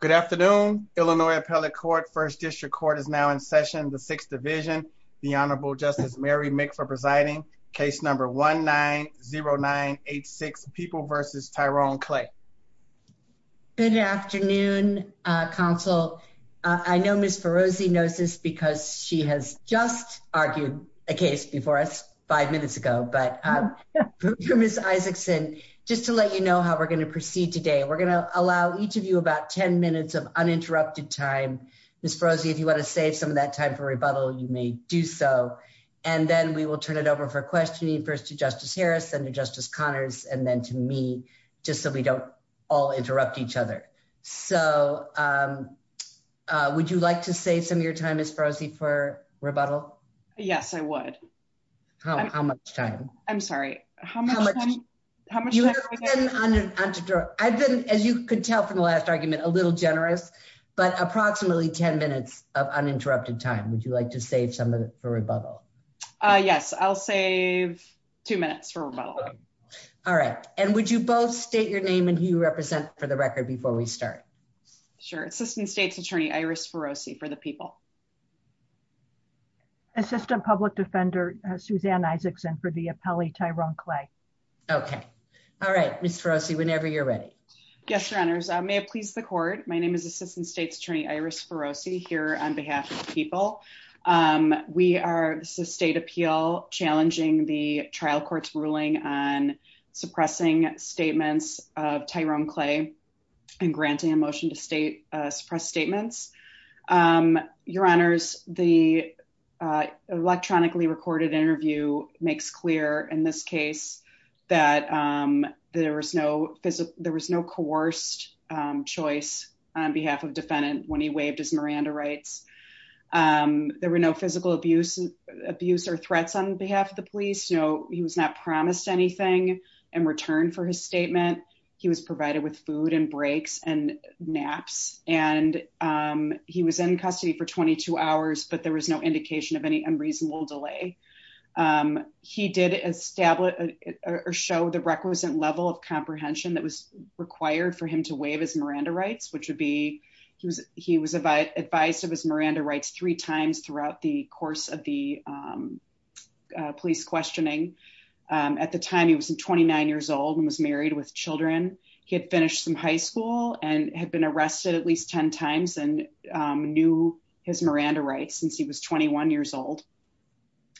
Good afternoon, Illinois Appellate Court, 1st District Court is now in session, the Sixth Division. The Honorable Justice Mary Mick for presiding, case number 1-9-0-9-8-6, People v. Tyrone Clay. Good afternoon, counsel. I know Ms. Ferozzi knows this because she has just argued a case before us five minutes ago, but for Ms. Isaacson, just to let you know how we're going to proceed today, we're going to have about 10 minutes of uninterrupted time. Ms. Ferozzi, if you want to save some of that time for rebuttal, you may do so. And then we will turn it over for questioning, first to Justice Harris, then to Justice Connors, and then to me, just so we don't all interrupt each other. So would you like to save some of your time, Ms. Ferozzi, for rebuttal? Yes, I would. How much time? I'm sorry. How much time? How much time? I've been, as you could tell from the last argument, a little generous, but approximately 10 minutes of uninterrupted time. Would you like to save some of it for rebuttal? Yes, I'll save two minutes for rebuttal. All right. And would you both state your name and who you represent for the record before we start? Sure. Assistant State's Attorney Iris Ferozzi for the People. Assistant Public Defender Suzanne Isaacson for the Appellee Tyrone Clay. Okay. All right. Ms. Ferozzi, whenever you're ready. Yes, Your Honors. May it please the Court. My name is Assistant State's Attorney Iris Ferozzi here on behalf of the People. We are, this is a state appeal challenging the trial court's ruling on suppressing statements of Tyrone Clay and granting a motion to suppress statements. Your Honors, the electronically recorded interview makes clear in this case that there was no coerced choice on behalf of defendant when he waived his Miranda rights. There were no physical abuse or threats on behalf of the police. He was not promised anything in return for his statement. He was provided with food and breaks and naps, and he was in custody for 22 hours, but there was no indication of any unreasonable delay. He did establish or show the requisite level of comprehension that was required for him to waive his Miranda rights, which would be, he was advised of his Miranda rights three times throughout the course of the police questioning. At the time he was 29 years old and was married with children. He had finished some high school and had been arrested at least 10 times and knew his Miranda rights since he was 21 years old.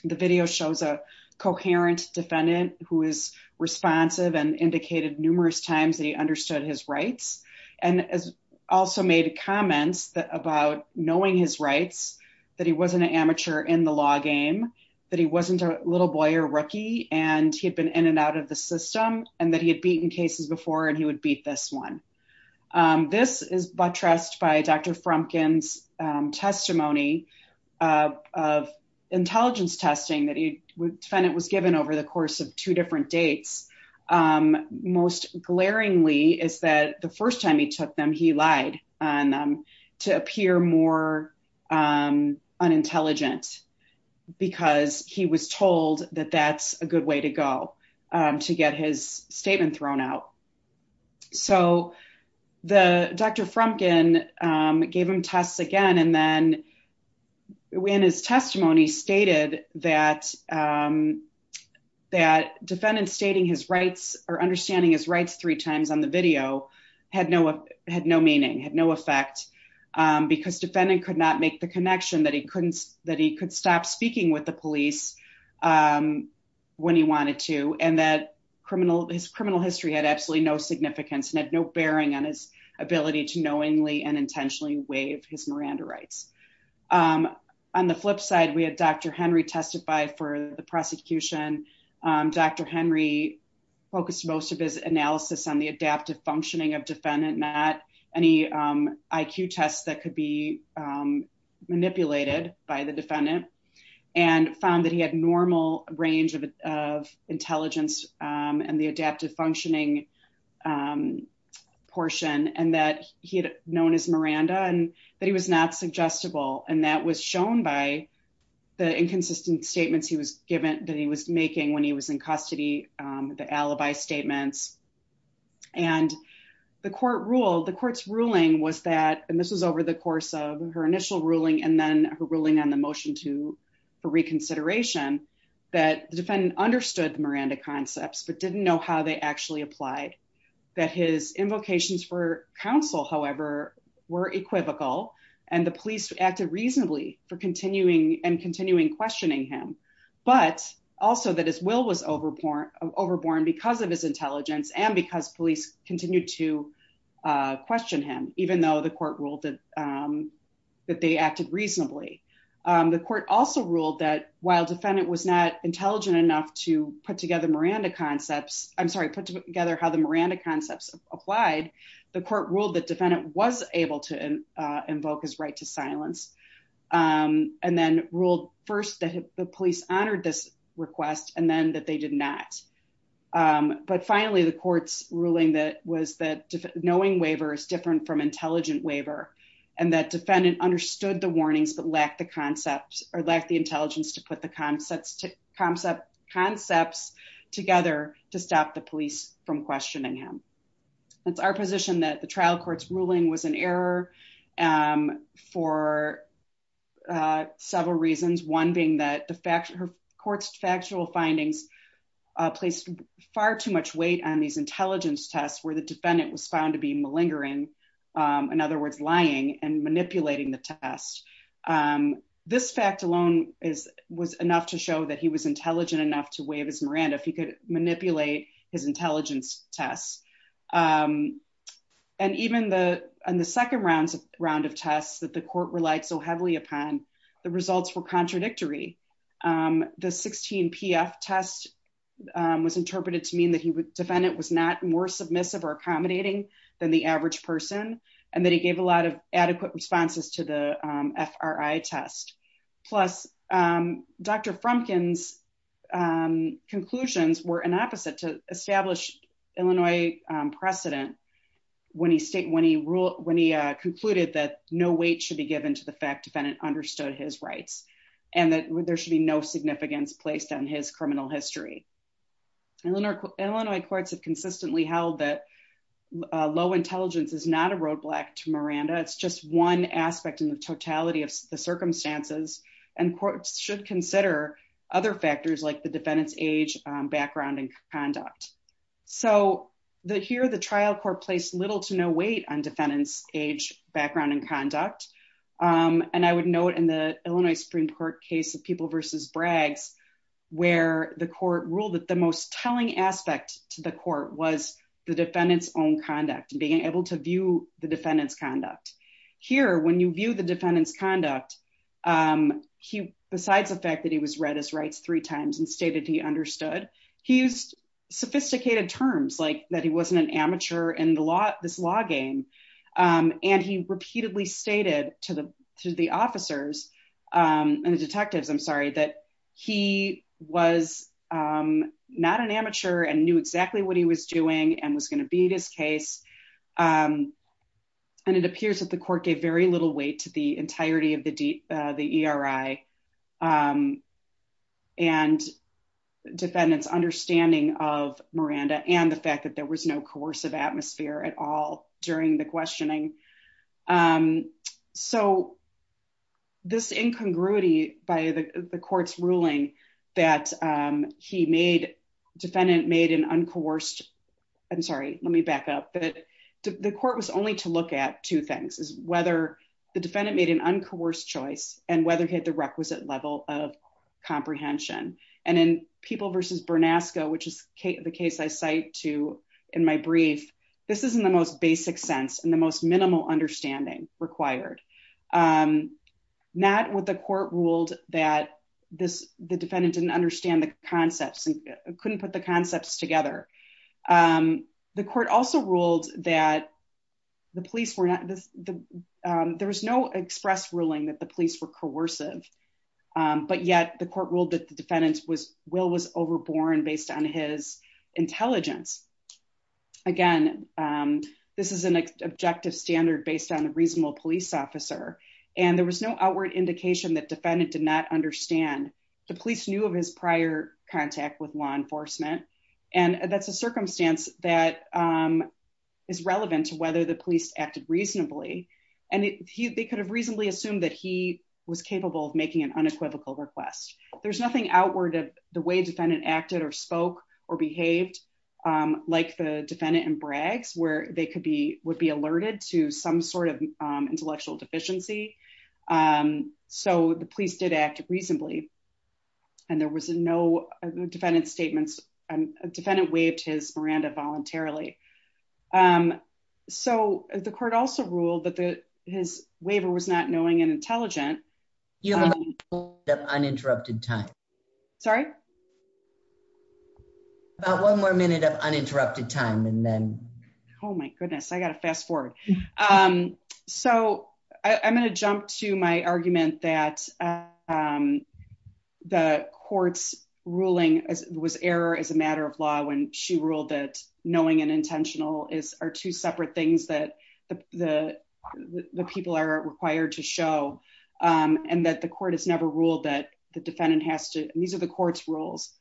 The video shows a coherent defendant who is responsive and indicated numerous times that he understood his rights and has also made comments about knowing his rights, that he wasn't a little boy or rookie and he had been in and out of the system and that he had beaten cases before and he would beat this one. This is buttressed by Dr. Frumkin's testimony of intelligence testing that he would find it was given over the course of two different dates. Most glaringly is that the first time he took them, he lied on them to appear more unintelligent because he was told that that's a good way to go to get his statement thrown out. So Dr. Frumkin gave him tests again and then in his testimony stated that that defendant stating his rights or understanding his rights three times on the video had no meaning, had no effect because defendant could not make the connection that he could stop speaking with the police when he wanted to and that his criminal history had absolutely no significance and had no bearing on his ability to knowingly and intentionally waive his Miranda rights. On the flip side, we had Dr. Henry testify for the prosecution. Dr. Henry focused most of his analysis on the adaptive functioning of defendant, not any IQ tests that could be manipulated by the defendant and found that he had normal range of intelligence and the adaptive functioning portion and that he had known his Miranda and that he was not suggestible and that was shown by the inconsistent statements he was given that he was making when he was in custody, the alibi statements and the court ruled, the court's ruling was that, and this was over the course of her initial ruling and then her ruling on the motion to for reconsideration, that the defendant understood the Miranda concepts but didn't know how they actually applied, that his invocations for counsel however were equivocal and the police acted reasonably for continuing and continuing questioning him but also that his will was overborn because of his intelligence and because police continued to question him even though the court ruled that they acted reasonably. The court also ruled that while defendant was not intelligent enough to put together Miranda concepts, I'm sorry, put together how the Miranda concepts applied, the court ruled that defendant was able to invoke his right to silence and then ruled first that the police honored this request and then that they did not. But finally, the court's ruling that was that knowing waiver is different from intelligent waiver and that defendant understood the warnings but lacked the concepts or lacked the intelligence to put the concepts together to stop the police from questioning him. It's our position that the trial court's ruling was an error for several reasons, one being that the court's factual findings placed far too much weight on these intelligence tests where the defendant was found to be malingering, in other words, lying and manipulating the test. This fact alone was enough to show that he was intelligent enough to waive his Miranda if he could manipulate his intelligence tests. And even on the second round of tests that the court relied so heavily upon, the results were contradictory. The 16 PF test was interpreted to mean that he would defend it was not more submissive or accommodating than the average person, and that he gave a lot of adequate responses to the FRI test. Plus, Dr. Frumkin's conclusions were an opposite to establish Illinois precedent when he state when he ruled when he concluded that no weight should be given to the fact defendant understood his rights and that there should be no significance placed on his criminal history. Illinois courts have consistently held that low intelligence is not a roadblock to Miranda. It's just one aspect in the totality of the circumstances and courts should consider other factors like the defendant's age, background, and conduct. So here the trial court placed little to no weight on defendant's age, background, and I would note in the Illinois Supreme Court case of People v. Braggs, where the court ruled that the most telling aspect to the court was the defendant's own conduct and being able to view the defendant's conduct. Here when you view the defendant's conduct, besides the fact that he was read his rights three times and stated he understood, he used sophisticated terms like that he wasn't an to the officers and the detectives, I'm sorry, that he was not an amateur and knew exactly what he was doing and was going to beat his case. And it appears that the court gave very little weight to the entirety of the ERI and defendant's understanding of Miranda and the fact that there was no coercive atmosphere at all during the questioning. So, this incongruity by the court's ruling that he made, defendant made an uncoerced, I'm sorry, let me back up, but the court was only to look at two things, is whether the defendant made an uncoerced choice and whether he had the requisite level of comprehension. And in People v. Bernasco, which is the case I cite to in my brief, this is in the most minimal understanding required. Not what the court ruled that the defendant didn't understand the concepts and couldn't put the concepts together. The court also ruled that the police were not, there was no express ruling that the police were coercive, but yet the court ruled that the defendant's will was overborne based on his intelligence. Again, this is an objective standard based on the reasonable police officer. And there was no outward indication that defendant did not understand. The police knew of his prior contact with law enforcement. And that's a circumstance that is relevant to whether the police acted reasonably. And they could have reasonably assumed that he was capable of making an unequivocal request. There's nothing outward of the way defendant acted or spoke or behaved like the defendant in Bragg's, where they could be, would be alerted to some sort of intellectual deficiency. So the police did act reasonably. And there was no defendant statements, a defendant waived his Miranda voluntarily. So the court also ruled that his waiver was not knowing and intelligent. You have one minute of uninterrupted time. Sorry? About one more minute of uninterrupted time and then. Oh my goodness, I got to fast forward. So I'm going to jump to my argument that the court's ruling was error as a matter of law when she ruled that knowing and intentional are two separate things that the people are and that the court has never ruled that the defendant has to, and these are the court's rules,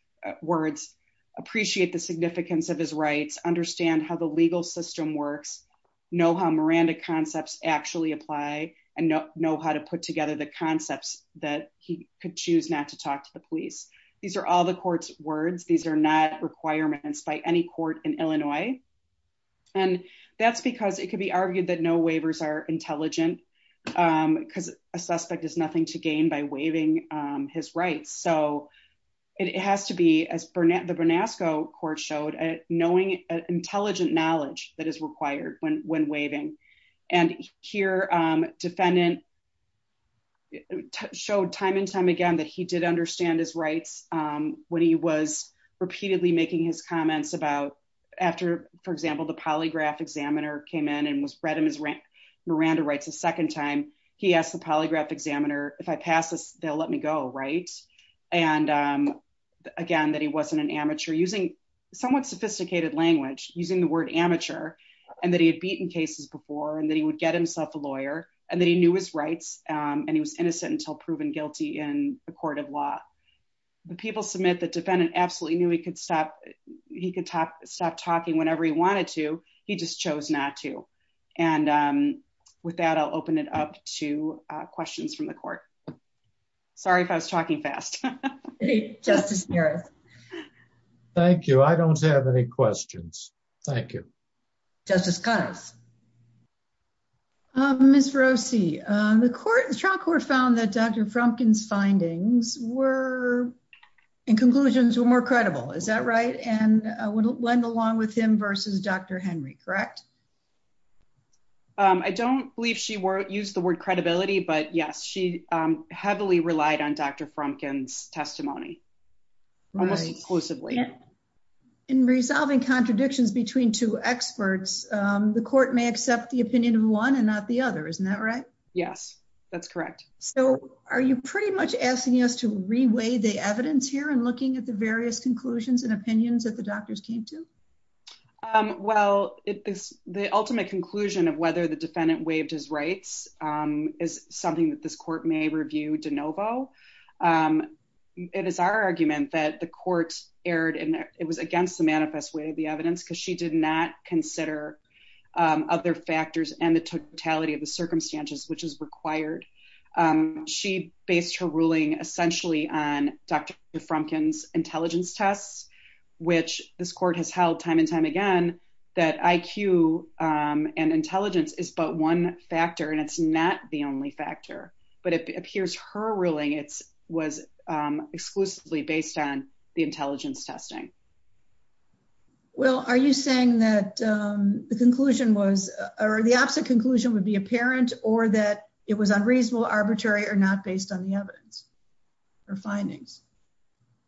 words, appreciate the significance of his rights, understand how the legal system works, know how Miranda concepts actually apply, and know how to put together the concepts that he could choose not to talk to the police. These are all the court's words. These are not requirements by any court in Illinois. And that's because it could be argued that no waivers are intelligent because a suspect has nothing to gain by waiving his rights. So it has to be, as the Bernasco court showed, knowing intelligent knowledge that is required when waiving. And here, defendant showed time and time again that he did understand his rights when he was repeatedly making his comments about after, for example, the polygraph examiner came in and read him his Miranda rights a second time, he asked the polygraph examiner, if I pass this, they'll let me go, right? And again, that he wasn't an amateur, using somewhat sophisticated language, using the word amateur, and that he had beaten cases before, and that he would get himself a lawyer, and that he knew his rights, and he was innocent until proven guilty in a court of law. The people submit the defendant absolutely knew he could stop talking whenever he wanted to. He just chose not to. And with that, I'll open it up to questions from the court. Sorry if I was talking fast. Justice Harris. Thank you. I don't have any questions. Thank you. Justice Connors. Ms. Rossi, the trial court found that Dr. Frumkin's findings were, in conclusions, were more credible. Is that right? And it went along with him versus Dr. Henry, correct? I don't believe she used the word credibility, but yes, she heavily relied on Dr. Frumkin's testimony, almost exclusively. In resolving contradictions between two experts, the court may accept the opinion of one and not the other, isn't that right? Yes, that's correct. So are you pretty much asking us to reweigh the evidence here in looking at the various conclusions and opinions that the doctors came to? Well, the ultimate conclusion of whether the defendant waived his rights is something that this court may review de novo. It is our argument that the court erred and it was against the manifest way of the evidence because she did not consider other factors and the totality of the circumstances which is required. She based her ruling essentially on Dr. Frumkin's intelligence tests, which this court has held time and time again that IQ and intelligence is but one factor and it's not the only factor. But it appears her ruling was exclusively based on the intelligence testing. Well, are you saying that the opposite conclusion would be apparent or that it was unreasonable, arbitrary or not based on the evidence or findings?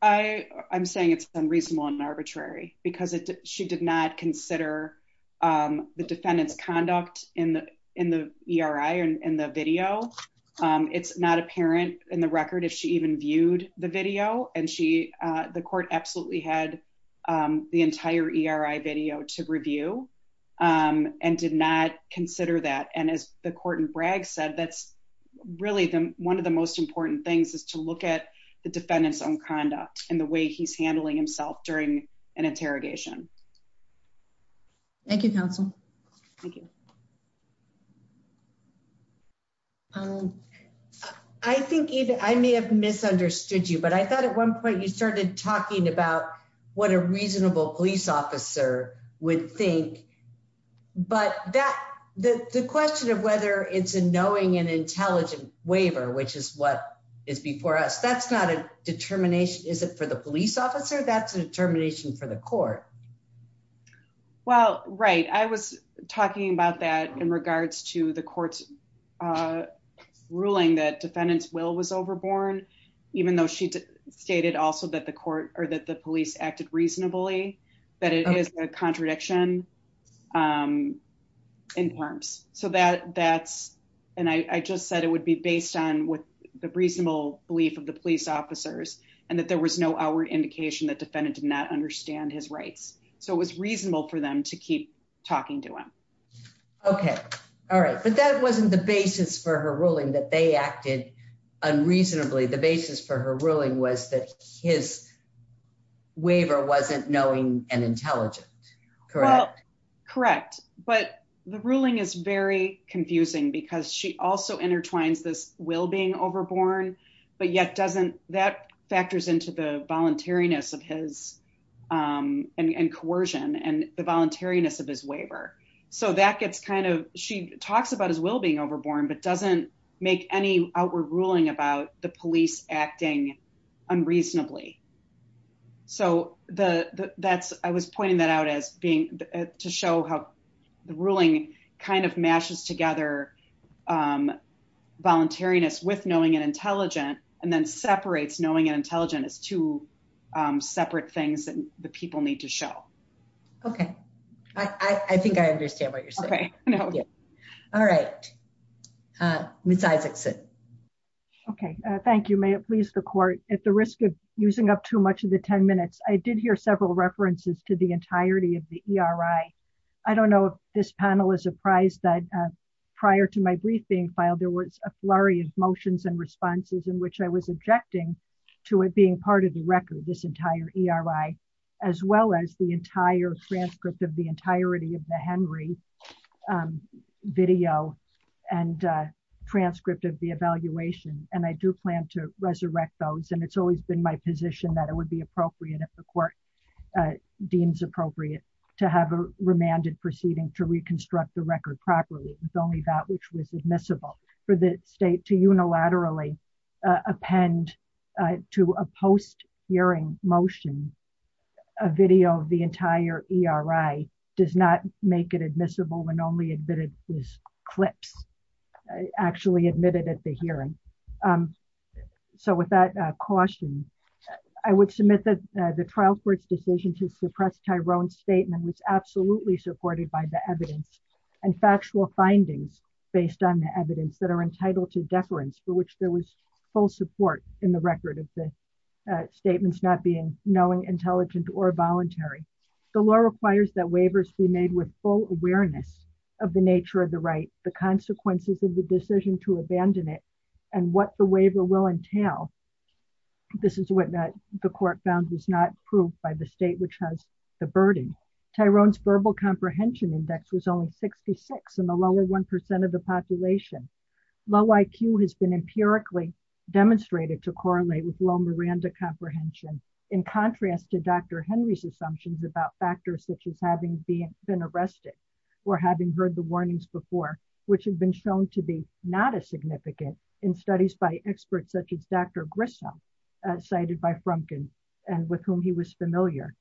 I'm saying it's unreasonable and arbitrary because she did not consider the defendant's conduct in the ERI and the video. It's not apparent in the record if she even viewed the video and the court absolutely had the entire ERI video to review and did not consider that. And as the court in Bragg said, that's really the one of the most important things is to look at the defendant's own conduct and the way he's handling himself during an interrogation. Thank you, counsel. Thank you. I think I may have misunderstood you, but I thought at one point you started talking about what a reasonable police officer would think. But the question of whether it's a knowing and intelligent waiver, which is what is before us, that's not a determination, is it for the police officer? That's a determination for the court. Well, right. I was talking about that in regards to the court's ruling that defendant's will was overborne, even though she stated also that the police acted reasonably, that it is a contradiction in terms. So that's, and I just said it would be based on what the reasonable belief of the police officers and that there was no outward indication that defendant did not understand his rights. So it was reasonable for them to keep talking to him. Okay. All right. But that wasn't the basis for her ruling that they acted unreasonably. The basis for her ruling was that his waiver wasn't knowing and intelligent. Correct? Correct. But the ruling is very confusing because she also intertwines this will being overborne, but yet doesn't, that factors into the voluntariness of his, and coercion, and the voluntariness of his waiver. So that gets kind of, she talks about his will being overborne, but doesn't make any outward ruling about the police acting unreasonably. So that's, I was pointing that out as being, to show how the ruling kind of mashes together voluntariness with knowing and intelligent, and then separates knowing and intelligent as two separate things that the people need to show. Okay. I think I understand what you're saying. Okay. No. All right. Ms. Isaacson. Okay. Thank you. May it please the court, at the risk of using up too much of the 10 minutes, I did hear several references to the entirety of the ERI. I don't know if this panel is apprised that prior to my briefing file, there was a flurry of motions and responses in which I was objecting to it being part of the record, this entire ERI, as well as the entire transcript of the entirety of the Henry video and transcript of the evaluation. And I do plan to resurrect those. And it's always been my position that it would be appropriate, if the court deems appropriate, to have a remanded proceeding to reconstruct the record properly. It was only that which was admissible. For the state to unilaterally append to a post-hearing motion, a video of the entire ERI does not make it admissible when only admitted is clips actually admitted at the hearing. So with that caution, I would submit that the trial court's decision to suppress Tyrone's statement was absolutely supported by the evidence and factual findings based on the evidence that are entitled to deference for which there was full support in the record of the statements not being, knowing, intelligent, or voluntary. The law requires that waivers be made with full awareness of the nature of the right, the consequences of the decision to abandon it, and what the waiver will entail. This is what the court found was not proved by the state which has the burden. Tyrone's verbal comprehension index was only 66 in the lower 1% of the population. Low IQ has been empirically demonstrated to correlate with low Miranda comprehension. In contrast to Dr. Henry's assumptions about factors such as having been arrested or having heard the warnings before, which have been shown to be not as significant in studies by experts such as Dr. Grissom, cited by Frumkin and with whom he was familiar.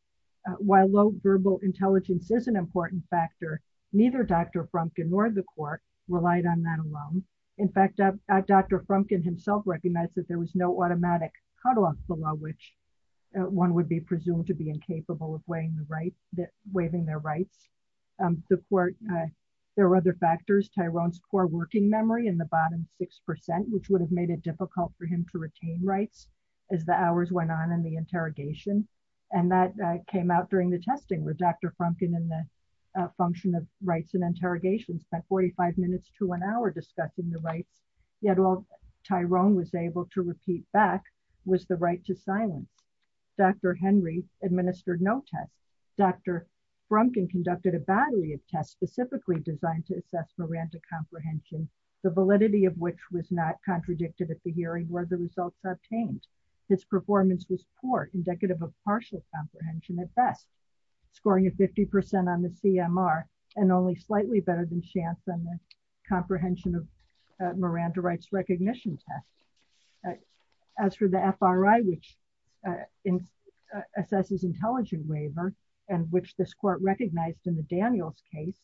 While low verbal intelligence is an important factor, neither Dr. Frumkin nor the court relied on that alone. In fact, Dr. Frumkin himself recognized that there was no automatic cutoff below one would be presumed to be incapable of waiving their rights. There were other factors. Tyrone's core working memory in the bottom 6%, which would have made it difficult for him to retain rights as the hours went on in the interrogation. That came out during the testing, where Dr. Frumkin in the function of rights and interrogations spent 45 minutes to an hour discussing the rights. Yet all Tyrone was able to repeat back was the right to silence. Dr. Henry administered no tests. Dr. Frumkin conducted a battery of tests specifically designed to assess Miranda comprehension, the validity of which was not contradicted at the hearing where the results obtained. His performance was poor, indicative of partial comprehension at best, scoring a 50% on the CMR and only slightly better than chance on the comprehension of Miranda rights recognition test. As for the FRI, which assesses intelligent waiver, and which this court recognized in the Daniels case,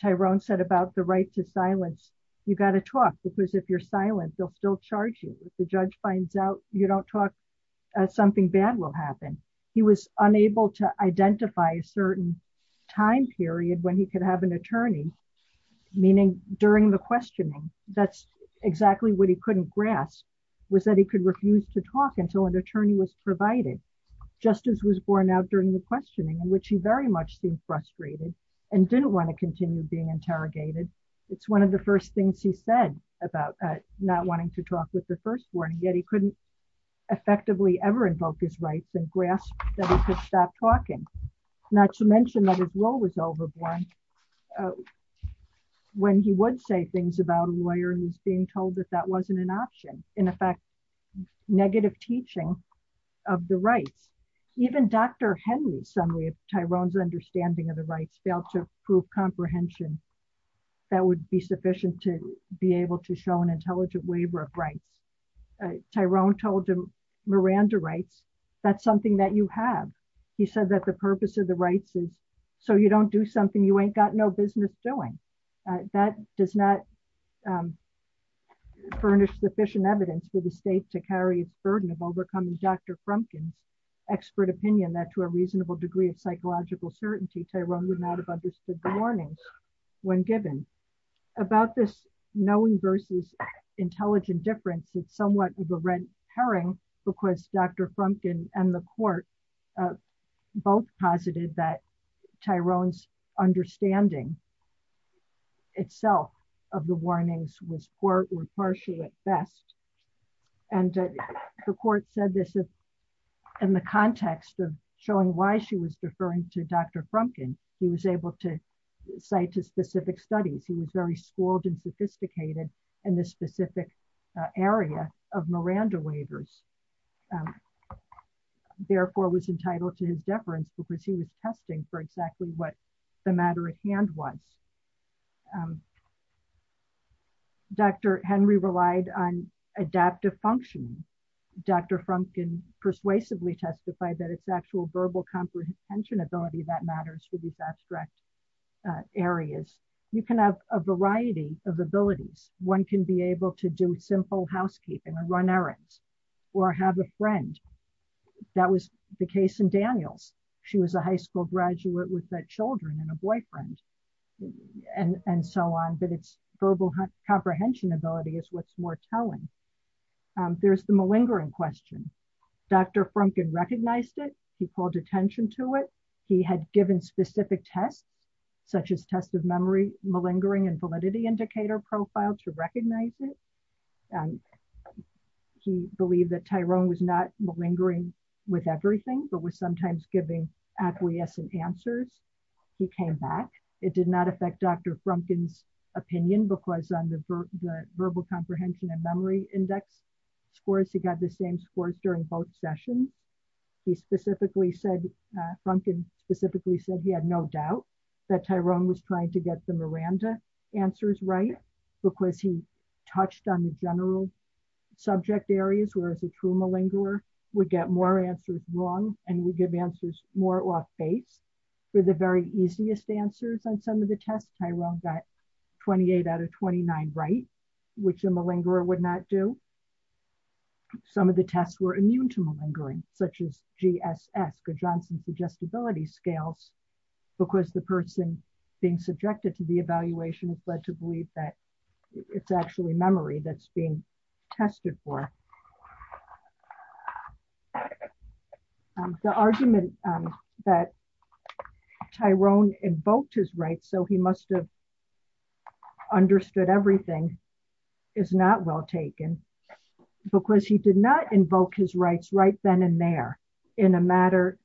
Tyrone said about the right to silence, you got to talk because if you're silent, they'll still charge you. If the judge finds out you don't talk, something bad will happen. He was unable to identify a certain time period when he could have an attorney, meaning during the questioning. That's exactly what he couldn't grasp, was that he could refuse to talk until an attorney was provided, just as was borne out during the questioning, in which he very much seemed frustrated and didn't want to continue being interrogated. It's one of the first things he said about not wanting to talk with the first warning, yet he couldn't effectively ever invoke his rights and grasp that he could stop talking. Not to mention that his role was overborn when he would say things about a lawyer who's being told that that wasn't an option, in effect, negative teaching of the rights. Even Dr. Henry's summary of Tyrone's understanding of the rights failed to prove comprehension that would be sufficient to be able to show an intelligent waiver of rights. Tyrone told him, Miranda writes, that's something that you have. He said that the purpose of the rights is so you don't do something you ain't got no business doing. That does not furnish sufficient evidence for the state to carry its burden of overcoming Dr. Frumkin's expert opinion that to a reasonable degree of psychological certainty, Tyrone would not have understood the warnings when given. About this knowing versus intelligent difference, it's somewhat of a red herring because Dr. Frumkin and the court both posited that Tyrone's understanding itself of the warnings was poor or partially at best. The court said this in the context of showing why she was deferring to Dr. Frumkin. He was able to cite to specific studies. He was very schooled and sophisticated in this specific area of Miranda waivers. Therefore, was entitled to his deference because he was testing for exactly what the matter at hand was. Dr. Henry relied on adaptive functioning. Dr. Frumkin persuasively testified that its actual verbal comprehension ability that matters for these abstract areas. You can have a variety of abilities. One can be able to do simple housekeeping and run errands or have a friend. That was the case in Daniels. She was a high school graduate with children and a boyfriend and so on, but its verbal comprehension ability is what's more telling. There's the malingering question. Dr. Frumkin recognized it. He called attention to it. He had given specific tests, such as test of memory, malingering and validity indicator profile to recognize it. He believed that Tyrone was not malingering with everything, but was sometimes giving acquiescent answers. He came back. It did not affect Dr. Frumkin's opinion because on the verbal comprehension and memory index scores, he got the same scores during both sessions. He specifically said, Frumkin specifically said he had no doubt that Tyrone was trying to get the Miranda answers right because he touched on the general subject areas, whereas a true malingerer would get more answers wrong and would give answers more off-base. For the very easiest answers on some of the tests, Tyrone got 28 out of 29 right, which a malingerer would not do. Some of the tests were immune to malingering, such as GSS, Good Johnson's Adjustability Scales, because the person being subjected to the evaluation was led to believe that it's actually memory that's being tested for. The argument that Tyrone invoked is right, so he must have understood everything is not well taken. Because he did not invoke his rights right then and there, in a manner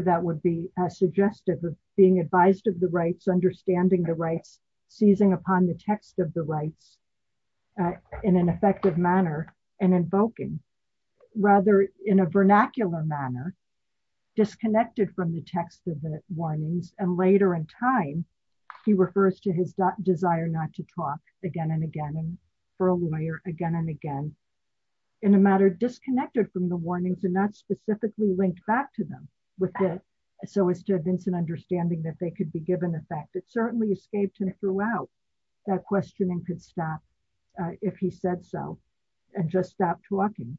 that would be suggestive of being advised of the rights, understanding the rights, seizing upon the text of the rights in an effective manner and invoking. Rather, in a vernacular manner, disconnected from the text of the warnings, and later in time, he refers to his desire not to talk again and again and for a lawyer again and again, in a manner disconnected from the warnings and not specifically linked back to them, so as to evince an understanding that they could be given effect. It certainly escaped him throughout that questioning could stop if he said so and just stop talking.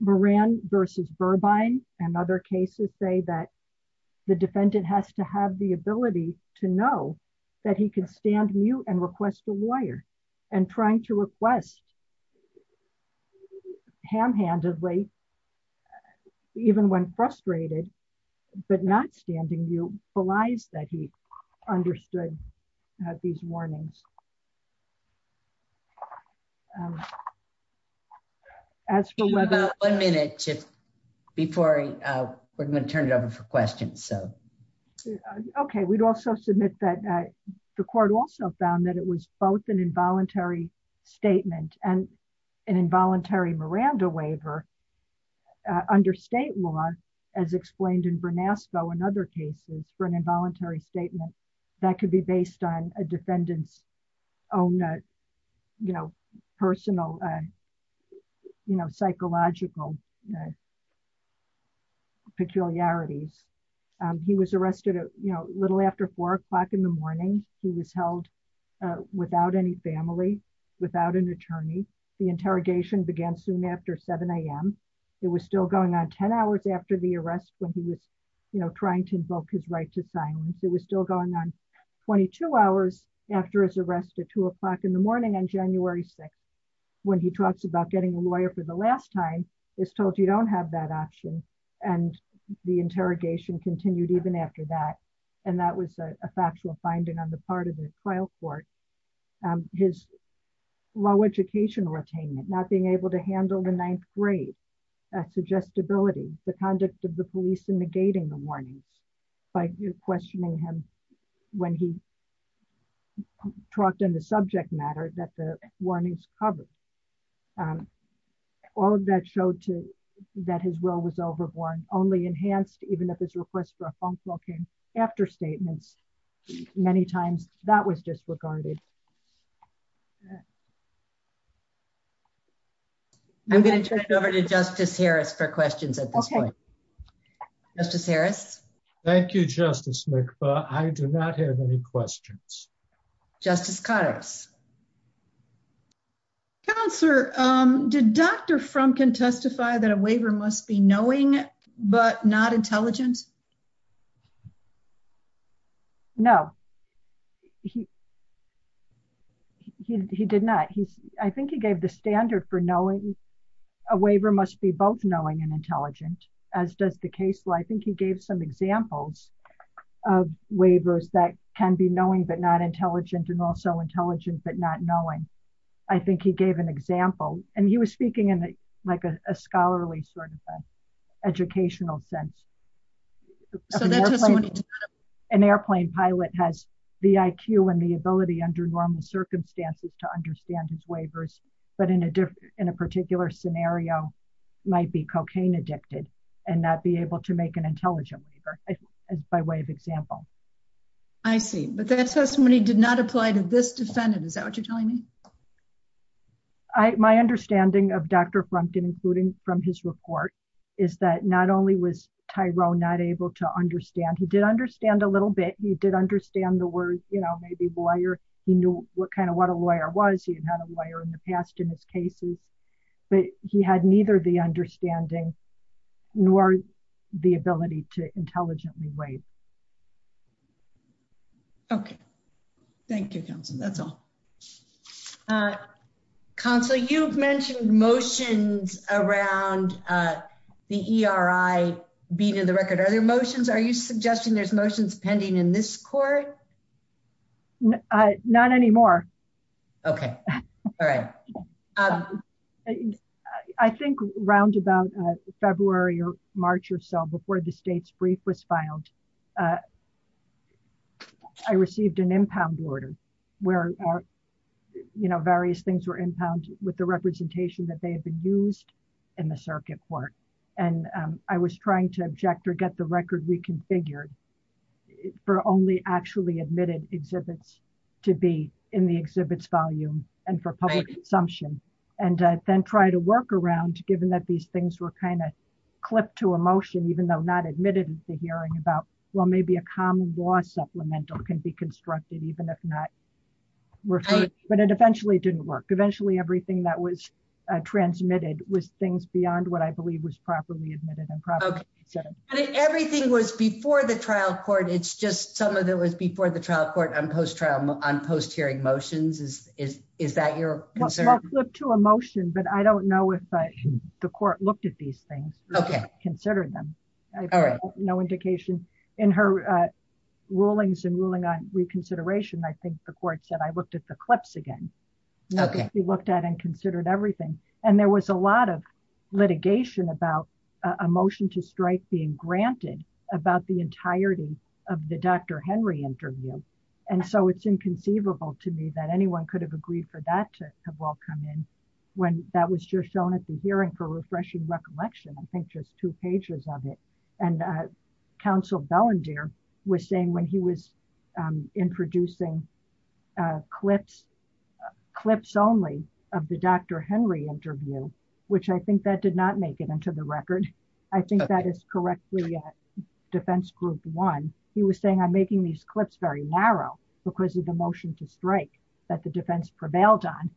Moran versus Burbine and other cases say that the defendant has to have the ability to know that he can stand mute and request a lawyer, and trying to request ham-handedly, even when frustrated, but not standing mute, belies that he understood these warnings. As for- We have about one minute before we're going to turn it over for questions. Okay. We'd also submit that the court also found that it was both an involuntary statement and an involuntary Miranda waiver under state law, as explained in Bernasco and other cases, for an involuntary statement that could be based on a defendant's own personal, psychological peculiarities. He was arrested a little after 4 o'clock in the morning. He was held without any family, without an attorney. The interrogation began soon after 7 a.m. It was still going on 10 hours after the arrest when he was trying to invoke his right to silence. It was still going on 22 hours after his arrest at 2 o'clock in the morning on January 6th. When he talks about getting a lawyer for the last time, he's told you don't have that option. The interrogation continued even after that. That was a factual finding on the part of the trial court. His low educational attainment, not being able to handle the ninth grade, suggestibility, the conduct of the police in negating the warnings by questioning him when he talked on the subject matter that the warnings covered. All of that showed that his role was overborne. Only enhanced even if his request for a phone call came after statements. Many times that was disregarded. I'm going to turn it over to Justice Harris for questions at this point. Justice Harris. Thank you, Justice McFarland. I do not have any questions. Justice Cotters. Counselor, did Dr. Frumkin testify that a waiver must be knowing but not intelligent? No. He did not. I think he gave the standard for knowing. A waiver must be both knowing and intelligent, as does the case. I think he gave some examples of waivers that can be knowing but not intelligent and also intelligent but not knowing. I think he gave an example and he was speaking in like a scholarly sort of educational sense. An airplane pilot has the IQ and the ability under normal circumstances to understand his waivers, but in a particular scenario might be cocaine addicted and not be able to make an intelligent waiver by way of example. I see, but that testimony did not apply to this defendant. Is that what you're telling me? No. My understanding of Dr. Frumkin, including from his report, is that not only was Tyrone not able to understand, he did understand a little bit. He did understand the word, you know, maybe lawyer. He knew what kind of what a lawyer was. He had a lawyer in the past in his cases, but he had neither the understanding nor the ability to intelligently wait. Okay. Thank you, counsel. That's all. Counsel, you've mentioned motions around the ERI being in the record. Are there motions? Are you suggesting there's motions pending in this court? Not anymore. Okay, all right. I think around about February or March or so before the state's brief was filed, I received an impound order where, you know, various things were impounded with the representation that they had been used in the circuit court. And I was trying to object or get the record reconfigured for only actually admitted exhibits to be in the exhibits volume and for public consumption. And then try to work around, given that these things were kind of admitted at the hearing about, well, maybe a common law supplemental can be constructed, even if not referred. But it eventually didn't work. Eventually, everything that was transmitted was things beyond what I believe was properly admitted and properly considered. And everything was before the trial court. It's just some of it was before the trial court on post hearing motions. Is that your concern? Well, flip to a motion, but I don't know if the court looked at these things. Okay. Considered them. No indication in her rulings and ruling on reconsideration. I think the court said, I looked at the clips again. Okay. We looked at and considered everything. And there was a lot of litigation about a motion to strike being granted about the entirety of the Dr. Henry interview. And so it's inconceivable to me that anyone could have agreed for that to have all come in. When that was just shown at the hearing for refreshing recollection. I think just two pages of it. And Council Bellendier was saying when he was in producing clips, clips only of the Dr. Henry interview, which I think that did not make it into the record. I think that is correctly defense group one. He was saying, I'm making these clips very narrow because of the motion to strike that the defense prevailed on.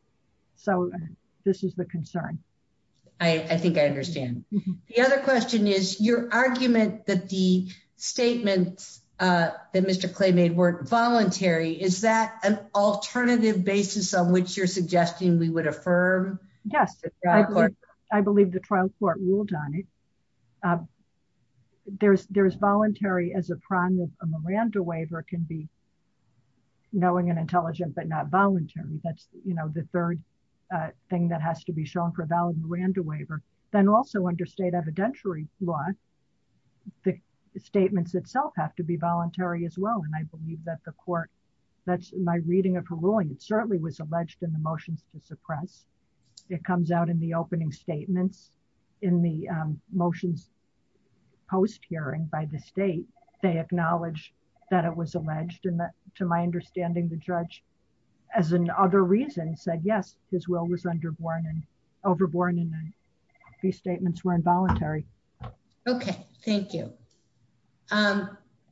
So this is the concern. I think I understand. The other question is your argument that the statements that Mr. Clay made were voluntary. Is that an alternative basis on which you're suggesting we would affirm? Yes. I believe the trial court ruled on it. There's voluntary as a prime of a Miranda waiver can be knowing and intelligent, but not voluntary. That's the third thing that has to be shown for valid Miranda waiver. Then also under state evidentiary law, the statements itself have to be voluntary as well. And I believe that the court that's my reading of her ruling. It certainly was alleged in the motions to suppress. It comes out in the opening statements in the motions post hearing by the state. They acknowledge that it was alleged in that, to my understanding, the judge, as an other reason said, yes, his will was under warning overboard. And then these statements were involuntary. Okay. Thank you.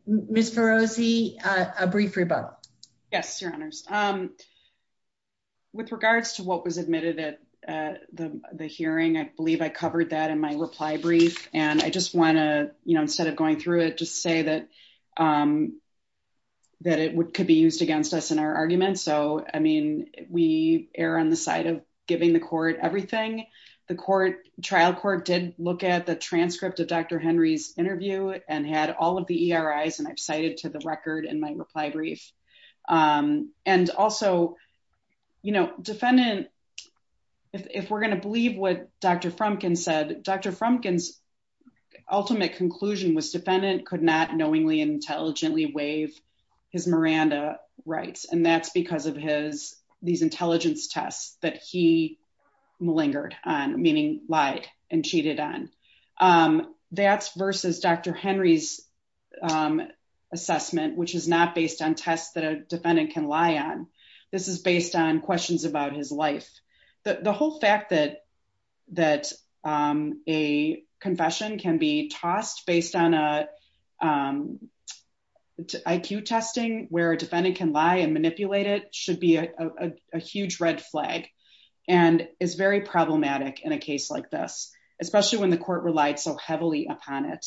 Mr. Rosie, a brief rebuttal. Yes, your honors. With regards to what was admitted at the hearing, I believe I covered that in my reply brief. And I just want to, you know, instead of going through it, just say that, that it could be used against us in our argument. So, I mean, we err on the side of giving the court everything the court trial court did look at the transcript of Dr. Henry's interview and had all of the ERIs and I've cited to the record in my reply brief. And also, you know, defendant, if we're going to believe what Dr. Frumkin's ultimate conclusion was defendant could not knowingly intelligently waive his Miranda rights. And that's because of his, these intelligence tests that he malingered on, meaning lied and cheated on. That's versus Dr. Henry's assessment, which is not based on tests that a defendant can lie on. This is based on questions about his life. The whole fact that, that a confession can be tossed based on IQ testing where a defendant can lie and manipulate it should be a huge red flag and is very problematic in a case like this, especially when the court relied so heavily upon it.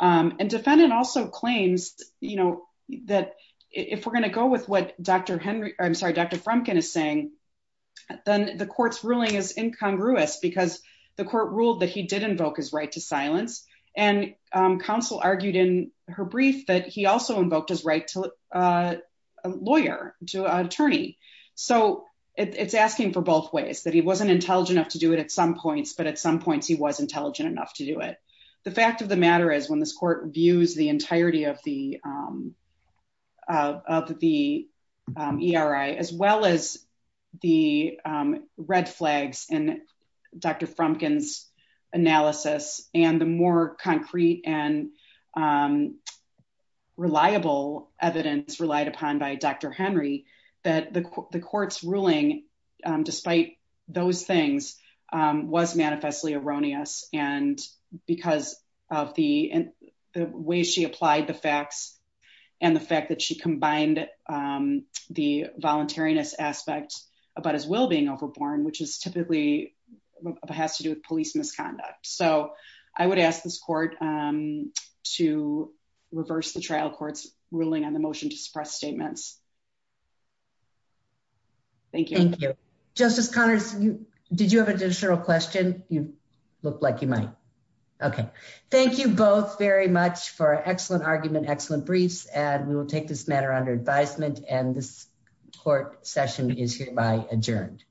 And defendant also claims, you know, that if we're going to go with what Dr. Frumkin is saying, then the court's ruling is incongruous because the court ruled that he did invoke his right to silence and counsel argued in her brief that he also invoked his right to a lawyer, to an attorney. So it's asking for both ways that he wasn't intelligent enough to do it at some points, but at some points he was intelligent enough to do it. The fact of the matter is when this court views the entirety of the ERI, as well as the red flags and Dr. Frumkin's analysis and the more concrete and reliable evidence relied upon by Dr. Henry, that the court's ruling, despite those things was manifestly erroneous. And because of the way she applied the facts and the fact that she combined the voluntariness aspect about his will being overborn, which is typically has to do with police misconduct. So I would ask this court to reverse the trial court's ruling on the motion to suppress statements. Thank you. Thank you. Justice Connors, did you have an additional question? You look like you might. Okay. Thank you both very much for an excellent argument, excellent briefs. And we will take this matter under advisement and this court session is hereby adjourned.